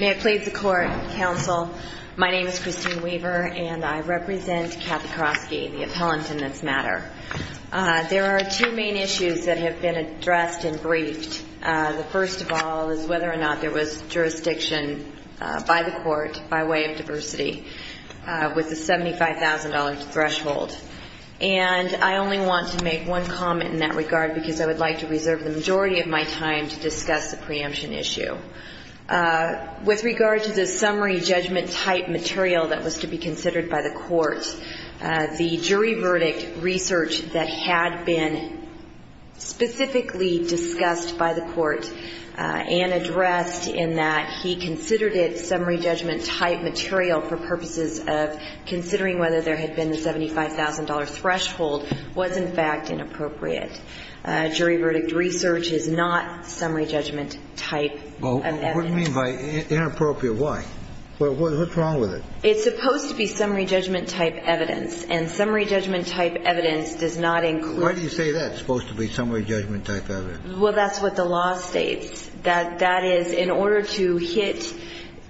May it please the Court, Counsel. My name is Christine Weaver and I represent Kathy Kroske, the appellant in this matter. There are two main issues that have been addressed and briefed. The first of all is whether or not there was jurisdiction by the Court, by way of diversity, with the $75,000 threshold. And I only want to make one comment in that regard because I would like to reserve the majority of my time to discuss the preemption issue. With regard to the summary judgment type material that was to be considered by the Court, the jury verdict research that had been specifically discussed by the Court and addressed in that he considered it summary judgment type material for purposes of considering whether there had been a $75,000 threshold was in fact inappropriate. Jury verdict research is not summary judgment type of evidence. What do you mean by inappropriate? Why? What's wrong with it? It's supposed to be summary judgment type evidence. And summary judgment type evidence does not include... Why do you say that, it's supposed to be summary judgment type evidence? Well, that's what the law states. That is, in order to hit,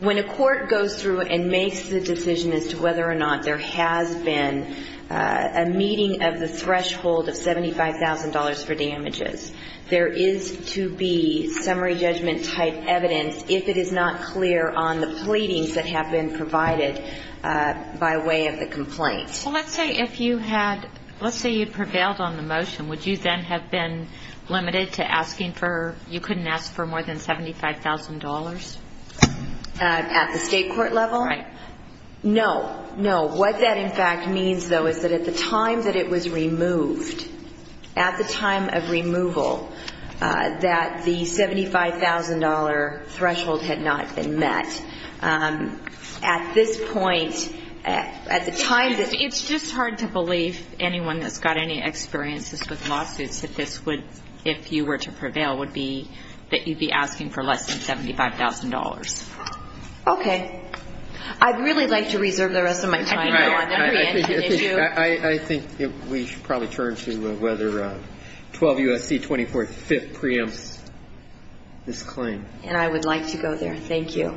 when a court goes through and makes the decision as to whether or not there has been a meeting of the threshold of $75,000 for damages, there is to be summary judgment type evidence if it is not clear on the pleadings that have been provided by way of the complaint. Well, let's say if you had, let's say you prevailed on the motion, would you then have been limited to asking for, you couldn't ask for more than $75,000? At the state court level? Right. No, no. What that in fact means, though, is that at the time that it was removed, at the time of removal, that the $75,000 threshold had not been met. At this point, at the time that... It's just hard to believe anyone that's got any experiences with lawsuits that this would, if you were to prevail, would be that you'd be asking for less than $75,000. Okay. I'd really like to reserve the rest of my time. I think we should probably turn to whether 12 U.S.C. 24th 5th preempts this claim. And I would like to go there. Thank you.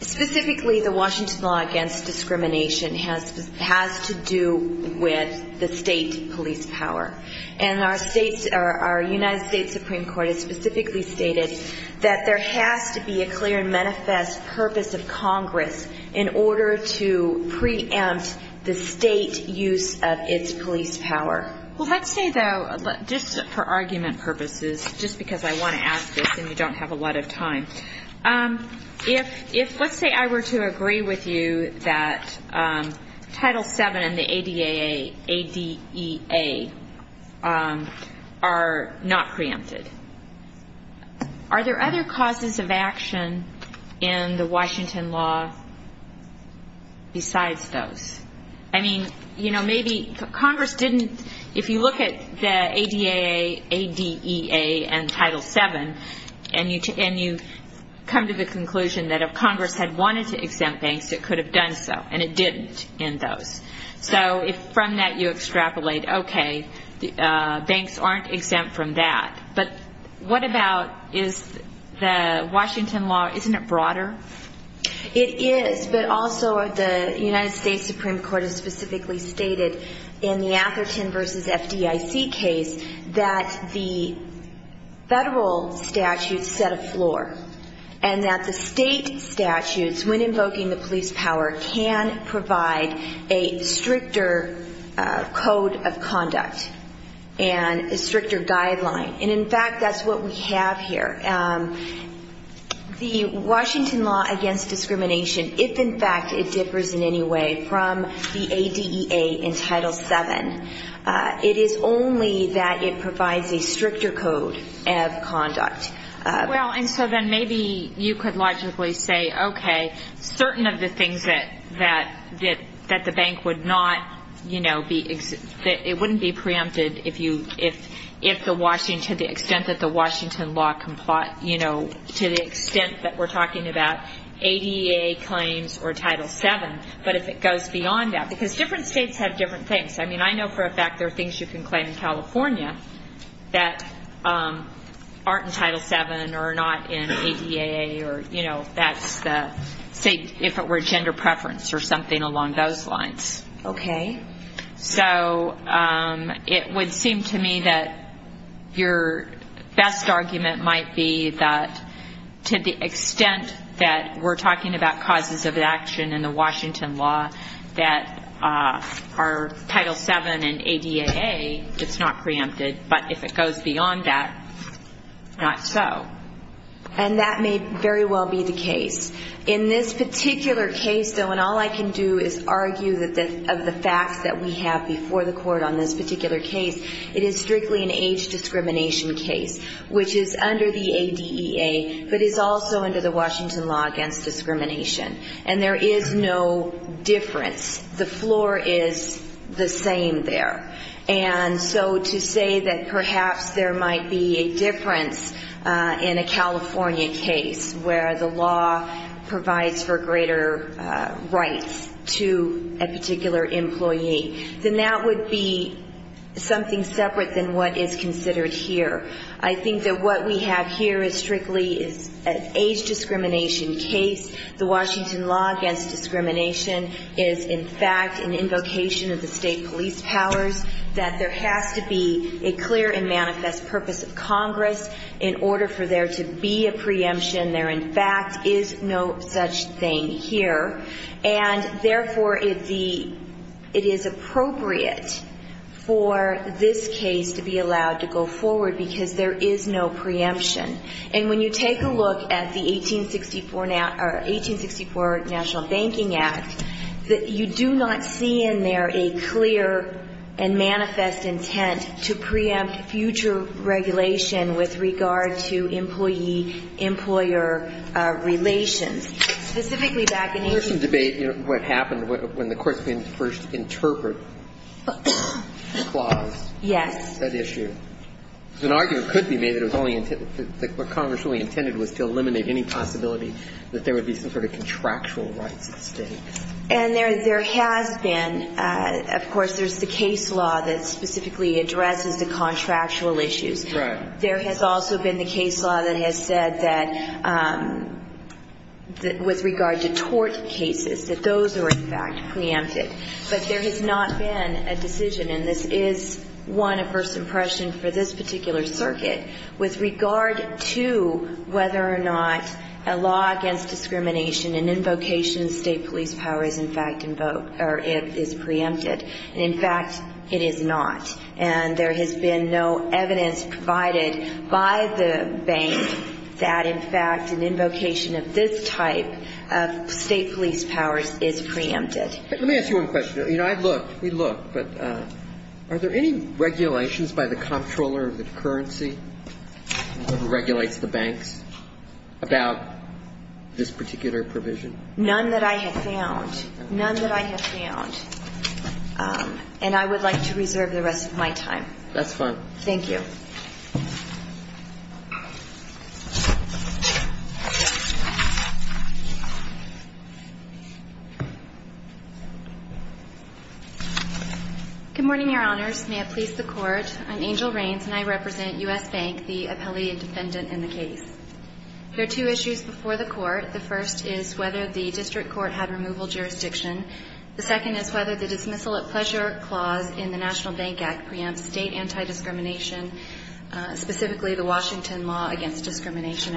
Specifically, the Washington law against discrimination has to do with the state police power. And our United States Supreme Court has specifically stated that there has to be a clear and manifest purpose of Congress in order to preempt the state use of its police power. Well, let's say, though, just for argument purposes, just because I want to ask this and you don't have a lot of time. If, let's say, I were to agree with you that Title VII and the ADAA, ADEA, are not preempted, are there other causes of action in the Washington law besides those? I mean, you know, maybe Congress didn't... come to the conclusion that if Congress had wanted to exempt banks, it could have done so, and it didn't in those. So if from that you extrapolate, okay, banks aren't exempt from that. But what about is the Washington law, isn't it broader? It is, but also the United States Supreme Court has specifically stated in the Atherton v. FDIC case that the federal statutes set a floor and that the state statutes, when invoking the police power, can provide a stricter code of conduct and a stricter guideline. And, in fact, that's what we have here. The Washington law against discrimination, if in fact it differs in any way from the ADEA in Title VII, it is only that it provides a stricter code of conduct. Well, and so then maybe you could logically say, okay, certain of the things that the bank would not, you know, it wouldn't be preempted if the Washington, to the extent that the Washington law complies, you know, to the extent that we're talking about ADEA claims or Title VII, but if it goes beyond that. Because different states have different things. I mean, I know for a fact there are things you can claim in California that aren't in Title VII or are not in ADEA or, you know, that's the, say, if it were gender preference or something along those lines. Okay. So it would seem to me that your best argument might be that to the extent that we're talking about causes of action in the Washington law that are Title VII and ADEA, it's not preempted. But if it goes beyond that, not so. And that may very well be the case. In this particular case, though, and all I can do is argue that of the facts that we have before the court on this particular case, it is strictly an age discrimination case, which is under the ADEA, but is also under the Washington law against discrimination. And there is no difference. The floor is the same there. And so to say that perhaps there might be a difference in a California case where the law provides for greater rights to a particular employee, then that would be something separate than what is considered here. I think that what we have here is strictly an age discrimination case. The Washington law against discrimination is, in fact, an invocation of the state police powers, that there has to be a clear and manifest purpose of Congress in order for there to be a preemption. There, in fact, is no such thing here. And, therefore, it is appropriate for this case to be allowed to go forward because there is no preemption. And when you take a look at the 1864 National Banking Act, you do not see in there a clear and manifest intent to preempt future regulation with regard to employee-employer relations. Specifically back in 1864. And there has been, of course, there's the case law that specifically addresses the contractual issues. Right. There has also been the case law that has said that with regard to tort cases, that those are, in fact, preempted. But there has not been a decision, and this is, one, a first impression for this particular circuit, with regard to whether or not a law against discrimination, an invocation of state police powers, in fact, is preempted. And, in fact, it is not. And there has been no evidence provided by the bank that, in fact, an invocation of this type of state police powers is preempted. Let me ask you one question. You know, I'd look. We'd look. But are there any regulations by the comptroller of the currency who regulates the banks about this particular provision? None that I have found. None that I have found. And I would like to reserve the rest of my time. That's fine. Thank you. Good morning, Your Honors. May it please the Court. I'm Angel Raines, and I represent U.S. Bank, the appellee and defendant in the case. There are two issues before the Court. The first is whether the district court had removal jurisdiction. The second is whether the dismissal at pleasure clause in the National Bank Act preempts state anti-discrimination, specifically the Washington Law Against Discrimination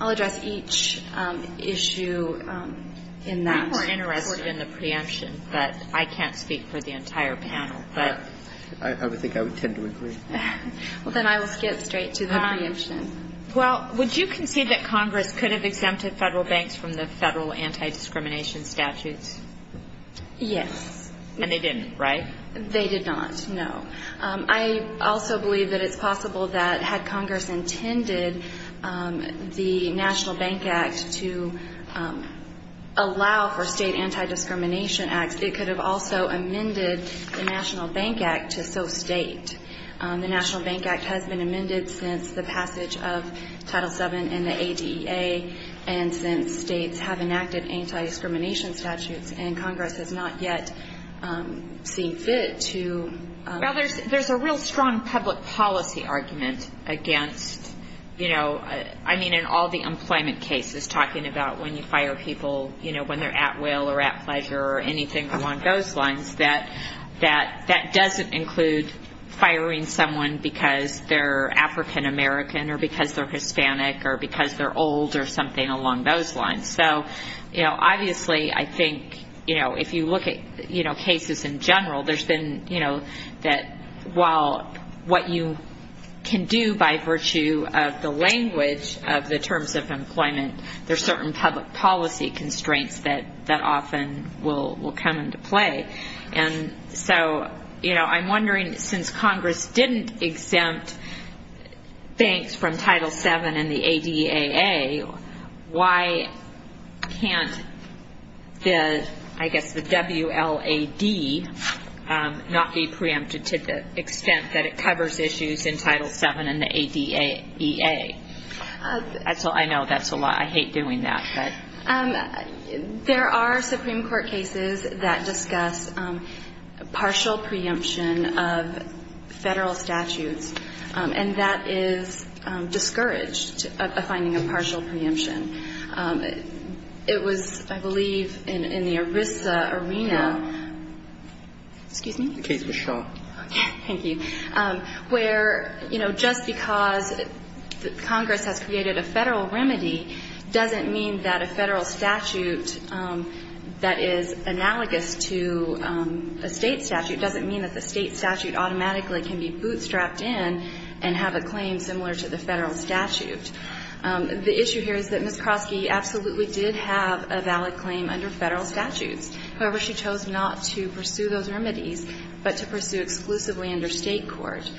I'll address each issue in that. We're interested in the preemption, but I can't speak for the entire panel. But I would think I would tend to agree. Well, then I will skip straight to the preemption. Well, would you concede that Congress could have exempted Federal banks from the Federal anti-discrimination statutes? Yes. And they didn't, right? They did not, no. I also believe that it's possible that had Congress intended the National Bank Act to allow for state anti-discrimination acts, it could have also amended the National Bank Act to so state. The National Bank Act has been amended since the passage of Title VII in the ADA, and since states have enacted anti-discrimination statutes, and Congress has not yet seen fit to ---- Well, there's a real strong public policy argument against, you know, I mean, in all the employment cases, talking about when you fire people, you know, when they're at will or at pleasure or anything along those lines, that that doesn't include firing someone because they're African American or because they're Hispanic or because they're old or something along those lines. So, you know, obviously I think, you know, if you look at, you know, cases in general, there's been, you know, that while what you can do by virtue of the language of the terms of employment, there's certain public policy constraints that often will come into play. And so, you know, I'm wondering, since Congress didn't exempt banks from Title VII and the ADAA, why can't the, I guess, the WLAD not be preempted to the extent that it covers issues in Title VII and the ADAA? I know that's a lot. I hate doing that. But ---- There are Supreme Court cases that discuss partial preemption of Federal statutes, and that is discouraged, a finding of partial preemption. It was, I believe, in the ERISA arena. Excuse me? The case with Shaw. Thank you. Where, you know, just because Congress has created a Federal remedy doesn't mean that a Federal statute that is analogous to a State statute doesn't mean that the State statute automatically can be bootstrapped in and have a claim similar to the Federal statute. The issue here is that Ms. Kroski absolutely did have a valid claim under Federal statutes. However, she chose not to pursue those remedies, but to pursue exclusively under State court.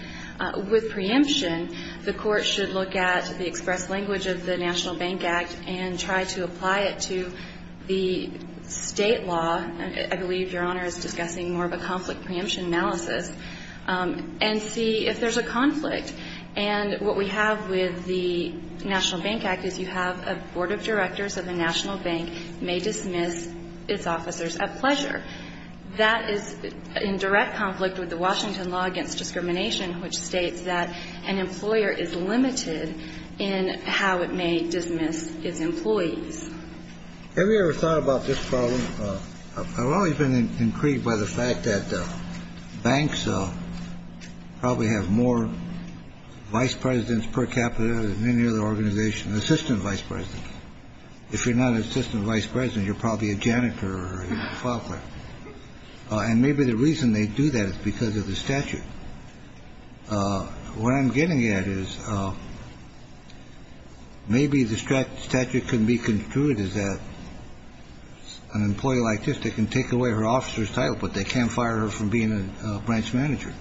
With preemption, the Court should look at the express language of the National Bank Act and try to apply it to the State law. I believe Your Honor is discussing more of a conflict preemption analysis, and see if there's a conflict. And what we have with the National Bank Act is you have a board of directors of the National Bank may dismiss its officers at pleasure. That is in direct conflict with the Washington law against discrimination, which states that an employer is limited in how it may dismiss its employees. Have you ever thought about this problem? I've always been intrigued by the fact that banks probably have more vice presidents per capita than any other organization, assistant vice president. If you're not an assistant vice president, you're probably a janitor or a file clerk. And maybe the reason they do that is because of the statute. What I'm getting at is maybe the statute can be concluded as that an employee like this, they can take away her officer's title, but they can't fire her from being a branch manager.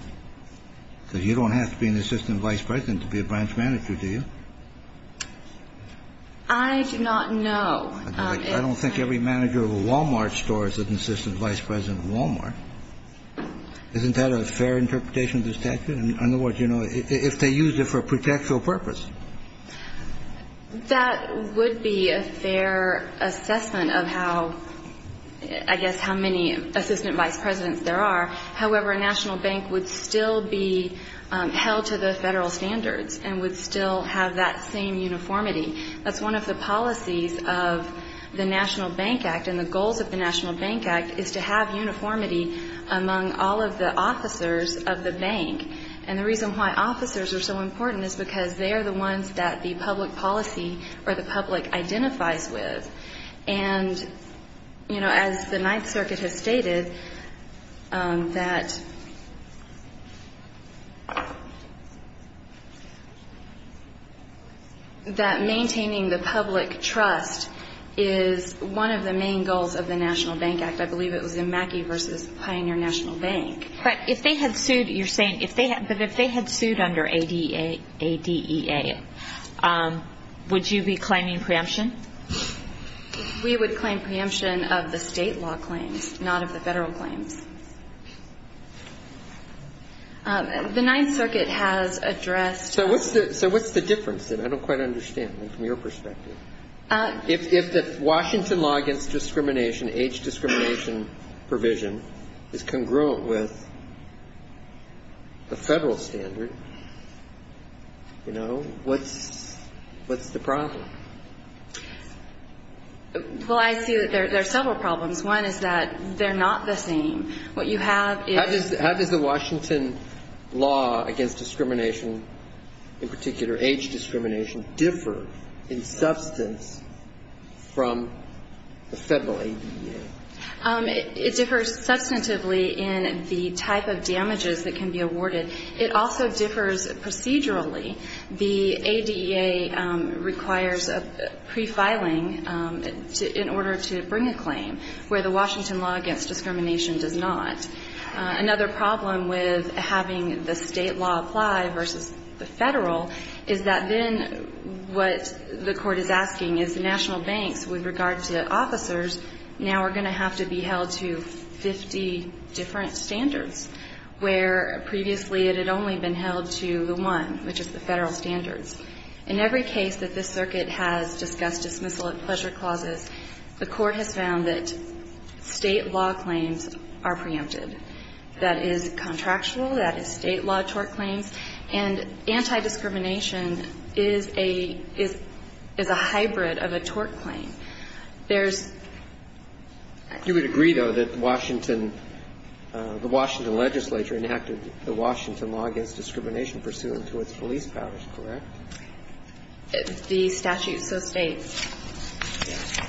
So you don't have to be an assistant vice president to be a branch manager, do you? I do not know. I don't think every manager of a Wal-Mart stores an assistant vice president of Wal-Mart. Isn't that a fair interpretation of the statute? In other words, you know, if they used it for a protectual purpose. That would be a fair assessment of how, I guess, how many assistant vice presidents there are. However, a national bank would still be held to the federal standards and would still have that same uniformity. That's one of the policies of the National Bank Act. And the goals of the National Bank Act is to have uniformity among all of the officers of the bank. And the reason why officers are so important is because they are the ones that the public policy or the public identifies with. And, you know, as the Ninth Circuit has stated, that maintaining the public trust is one of the main goals of the National Bank Act. I believe it was in Mackey v. Pioneer National Bank. But if they had sued, you're saying, if they had sued under ADEA, would you be claiming preemption? We would claim preemption of the state law claims, not of the federal claims. The Ninth Circuit has addressed the question. So what's the difference? I don't quite understand from your perspective. If the Washington law against discrimination, age discrimination provision, is congruent with the federal standard, you know, what's the problem? Well, I see that there are several problems. One is that they're not the same. What you have is the ---- How does the Washington law against discrimination, in particular age discrimination, differ in substance from the federal ADEA? It differs substantively in the type of damages that can be awarded. It also differs procedurally. The ADEA requires a prefiling in order to bring a claim, where the Washington law against discrimination does not. Another problem with having the state law apply versus the federal is that then what the court is asking is the national banks, with regard to officers, now are going to have to be held to 50 different standards, where previously it had only been held to the one, which is the federal standards. In every case that this circuit has discussed dismissal of pleasure clauses, the court has found that state law claims are preempted. That is contractual. That is state law tort claims. And anti-discrimination is a hybrid of a tort claim. There's ---- You would agree, though, that Washington ---- the Washington legislature enacted the Washington law against discrimination pursuant to its police powers, correct? The statute so states. Yes.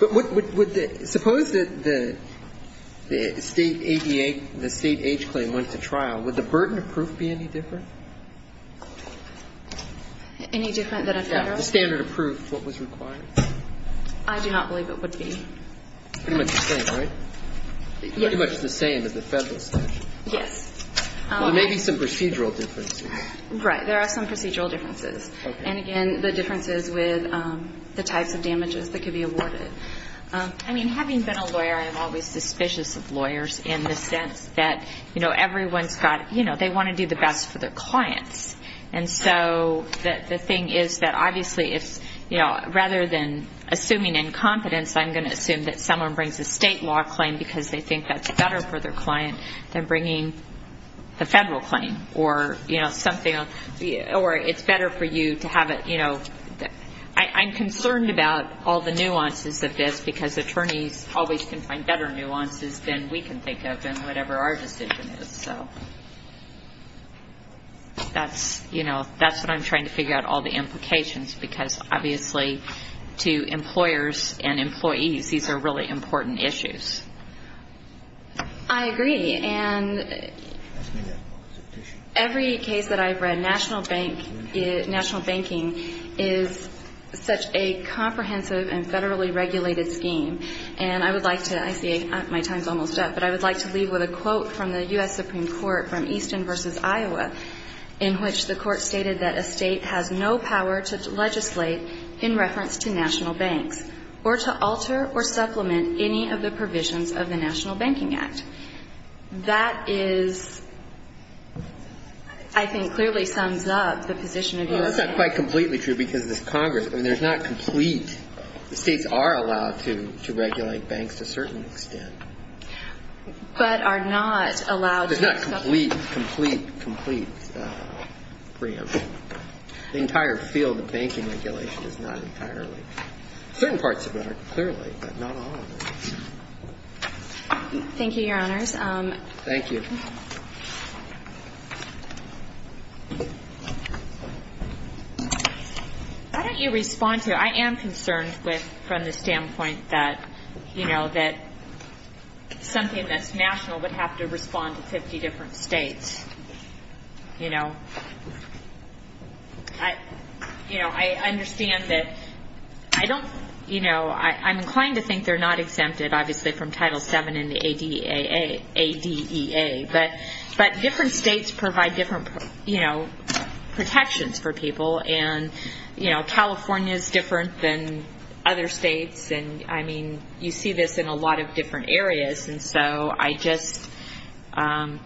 But would the ---- suppose that the state ADEA, the state age claim went to trial, would the burden of proof be any different? Any different than a federal? Yes. The standard of proof, what was required. I do not believe it would be. Pretty much the same, right? Yes. Pretty much the same as the federal statute. Yes. There may be some procedural differences. Right. There are some procedural differences. Okay. And, again, the differences with the types of damages that could be awarded. I mean, having been a lawyer, I'm always suspicious of lawyers in the sense that, you know, everyone's got ---- you know, they want to do the best for their clients. And so the thing is that obviously if, you know, rather than assuming incompetence, I'm going to assume that someone brings a state law claim because they think that's better for their client than bringing a federal claim or, you know, something or it's better for you to have it, you know. I'm concerned about all the nuances of this because attorneys always can find better nuances than we can think of in whatever our decision is. So that's, you know, that's what I'm trying to figure out, all the implications, because obviously to employers and employees, these are really important issues. I agree. And every case that I've read, national banking is such a comprehensive and federally regulated scheme. And I would like to ---- I see my time's almost up. But I would like to leave with a quote from the U.S. Supreme Court from Easton v. in reference to national banks, or to alter or supplement any of the provisions of the National Banking Act. That is, I think, clearly sums up the position of your ---- Well, that's not quite completely true because this Congress, I mean, there's not complete ---- the states are allowed to regulate banks to a certain extent. But are not allowed to ---- It's not a complete, complete, complete preemption. The entire field of banking regulation is not entirely. Certain parts of it are clearly, but not all of it. Thank you, Your Honors. Thank you. Why don't you respond to it? I am concerned with, from the standpoint that, you know, that something that's national would have to respond to 50 different states. You know, I understand that I don't, you know, I'm inclined to think they're not exempted, obviously, from Title VII and the ADEA. But different states provide different, you know, protections for people. And, you know, California is different than other states. And, I mean, you see this in a lot of different areas. And so I just ----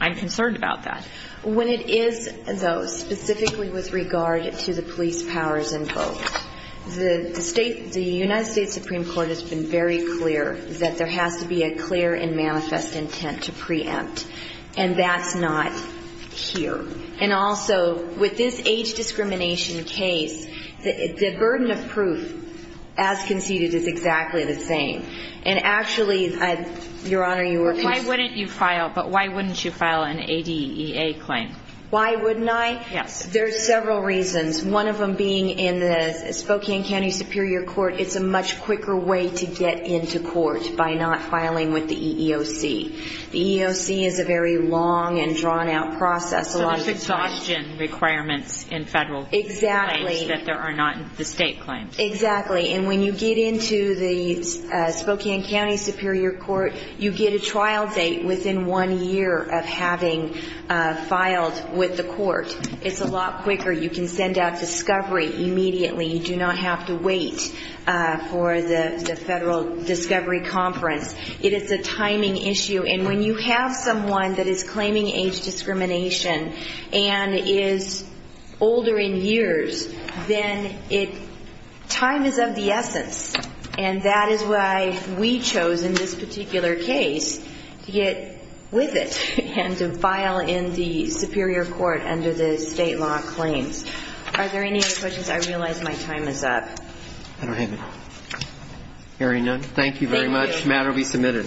I'm concerned about that. When it is, though, specifically with regard to the police powers involved, the United States Supreme Court has been very clear that there has to be a clear and manifest intent to preempt. And that's not here. And also, with this age discrimination case, the burden of proof, as conceded, is exactly the same. And actually, Your Honor, you were ---- Why wouldn't you file an ADEA claim? Why wouldn't I? Yes. There are several reasons, one of them being in the Spokane County Superior Court, it's a much quicker way to get into court by not filing with the EEOC. The EEOC is a very long and drawn-out process. So there's exhaustion requirements in federal claims that there are not in the state claims. Exactly. And when you get into the Spokane County Superior Court, you get a trial date within one year of having filed with the court. It's a lot quicker. You can send out discovery immediately. You do not have to wait for the federal discovery conference. It is a timing issue. And when you have someone that is claiming age discrimination and is older in years, then time is of the essence. And that is why we chose in this particular case to get with it and to file in the Superior Court under the state law claims. Are there any other questions? I realize my time is up. I don't have any. The matter will be submitted. Thank you.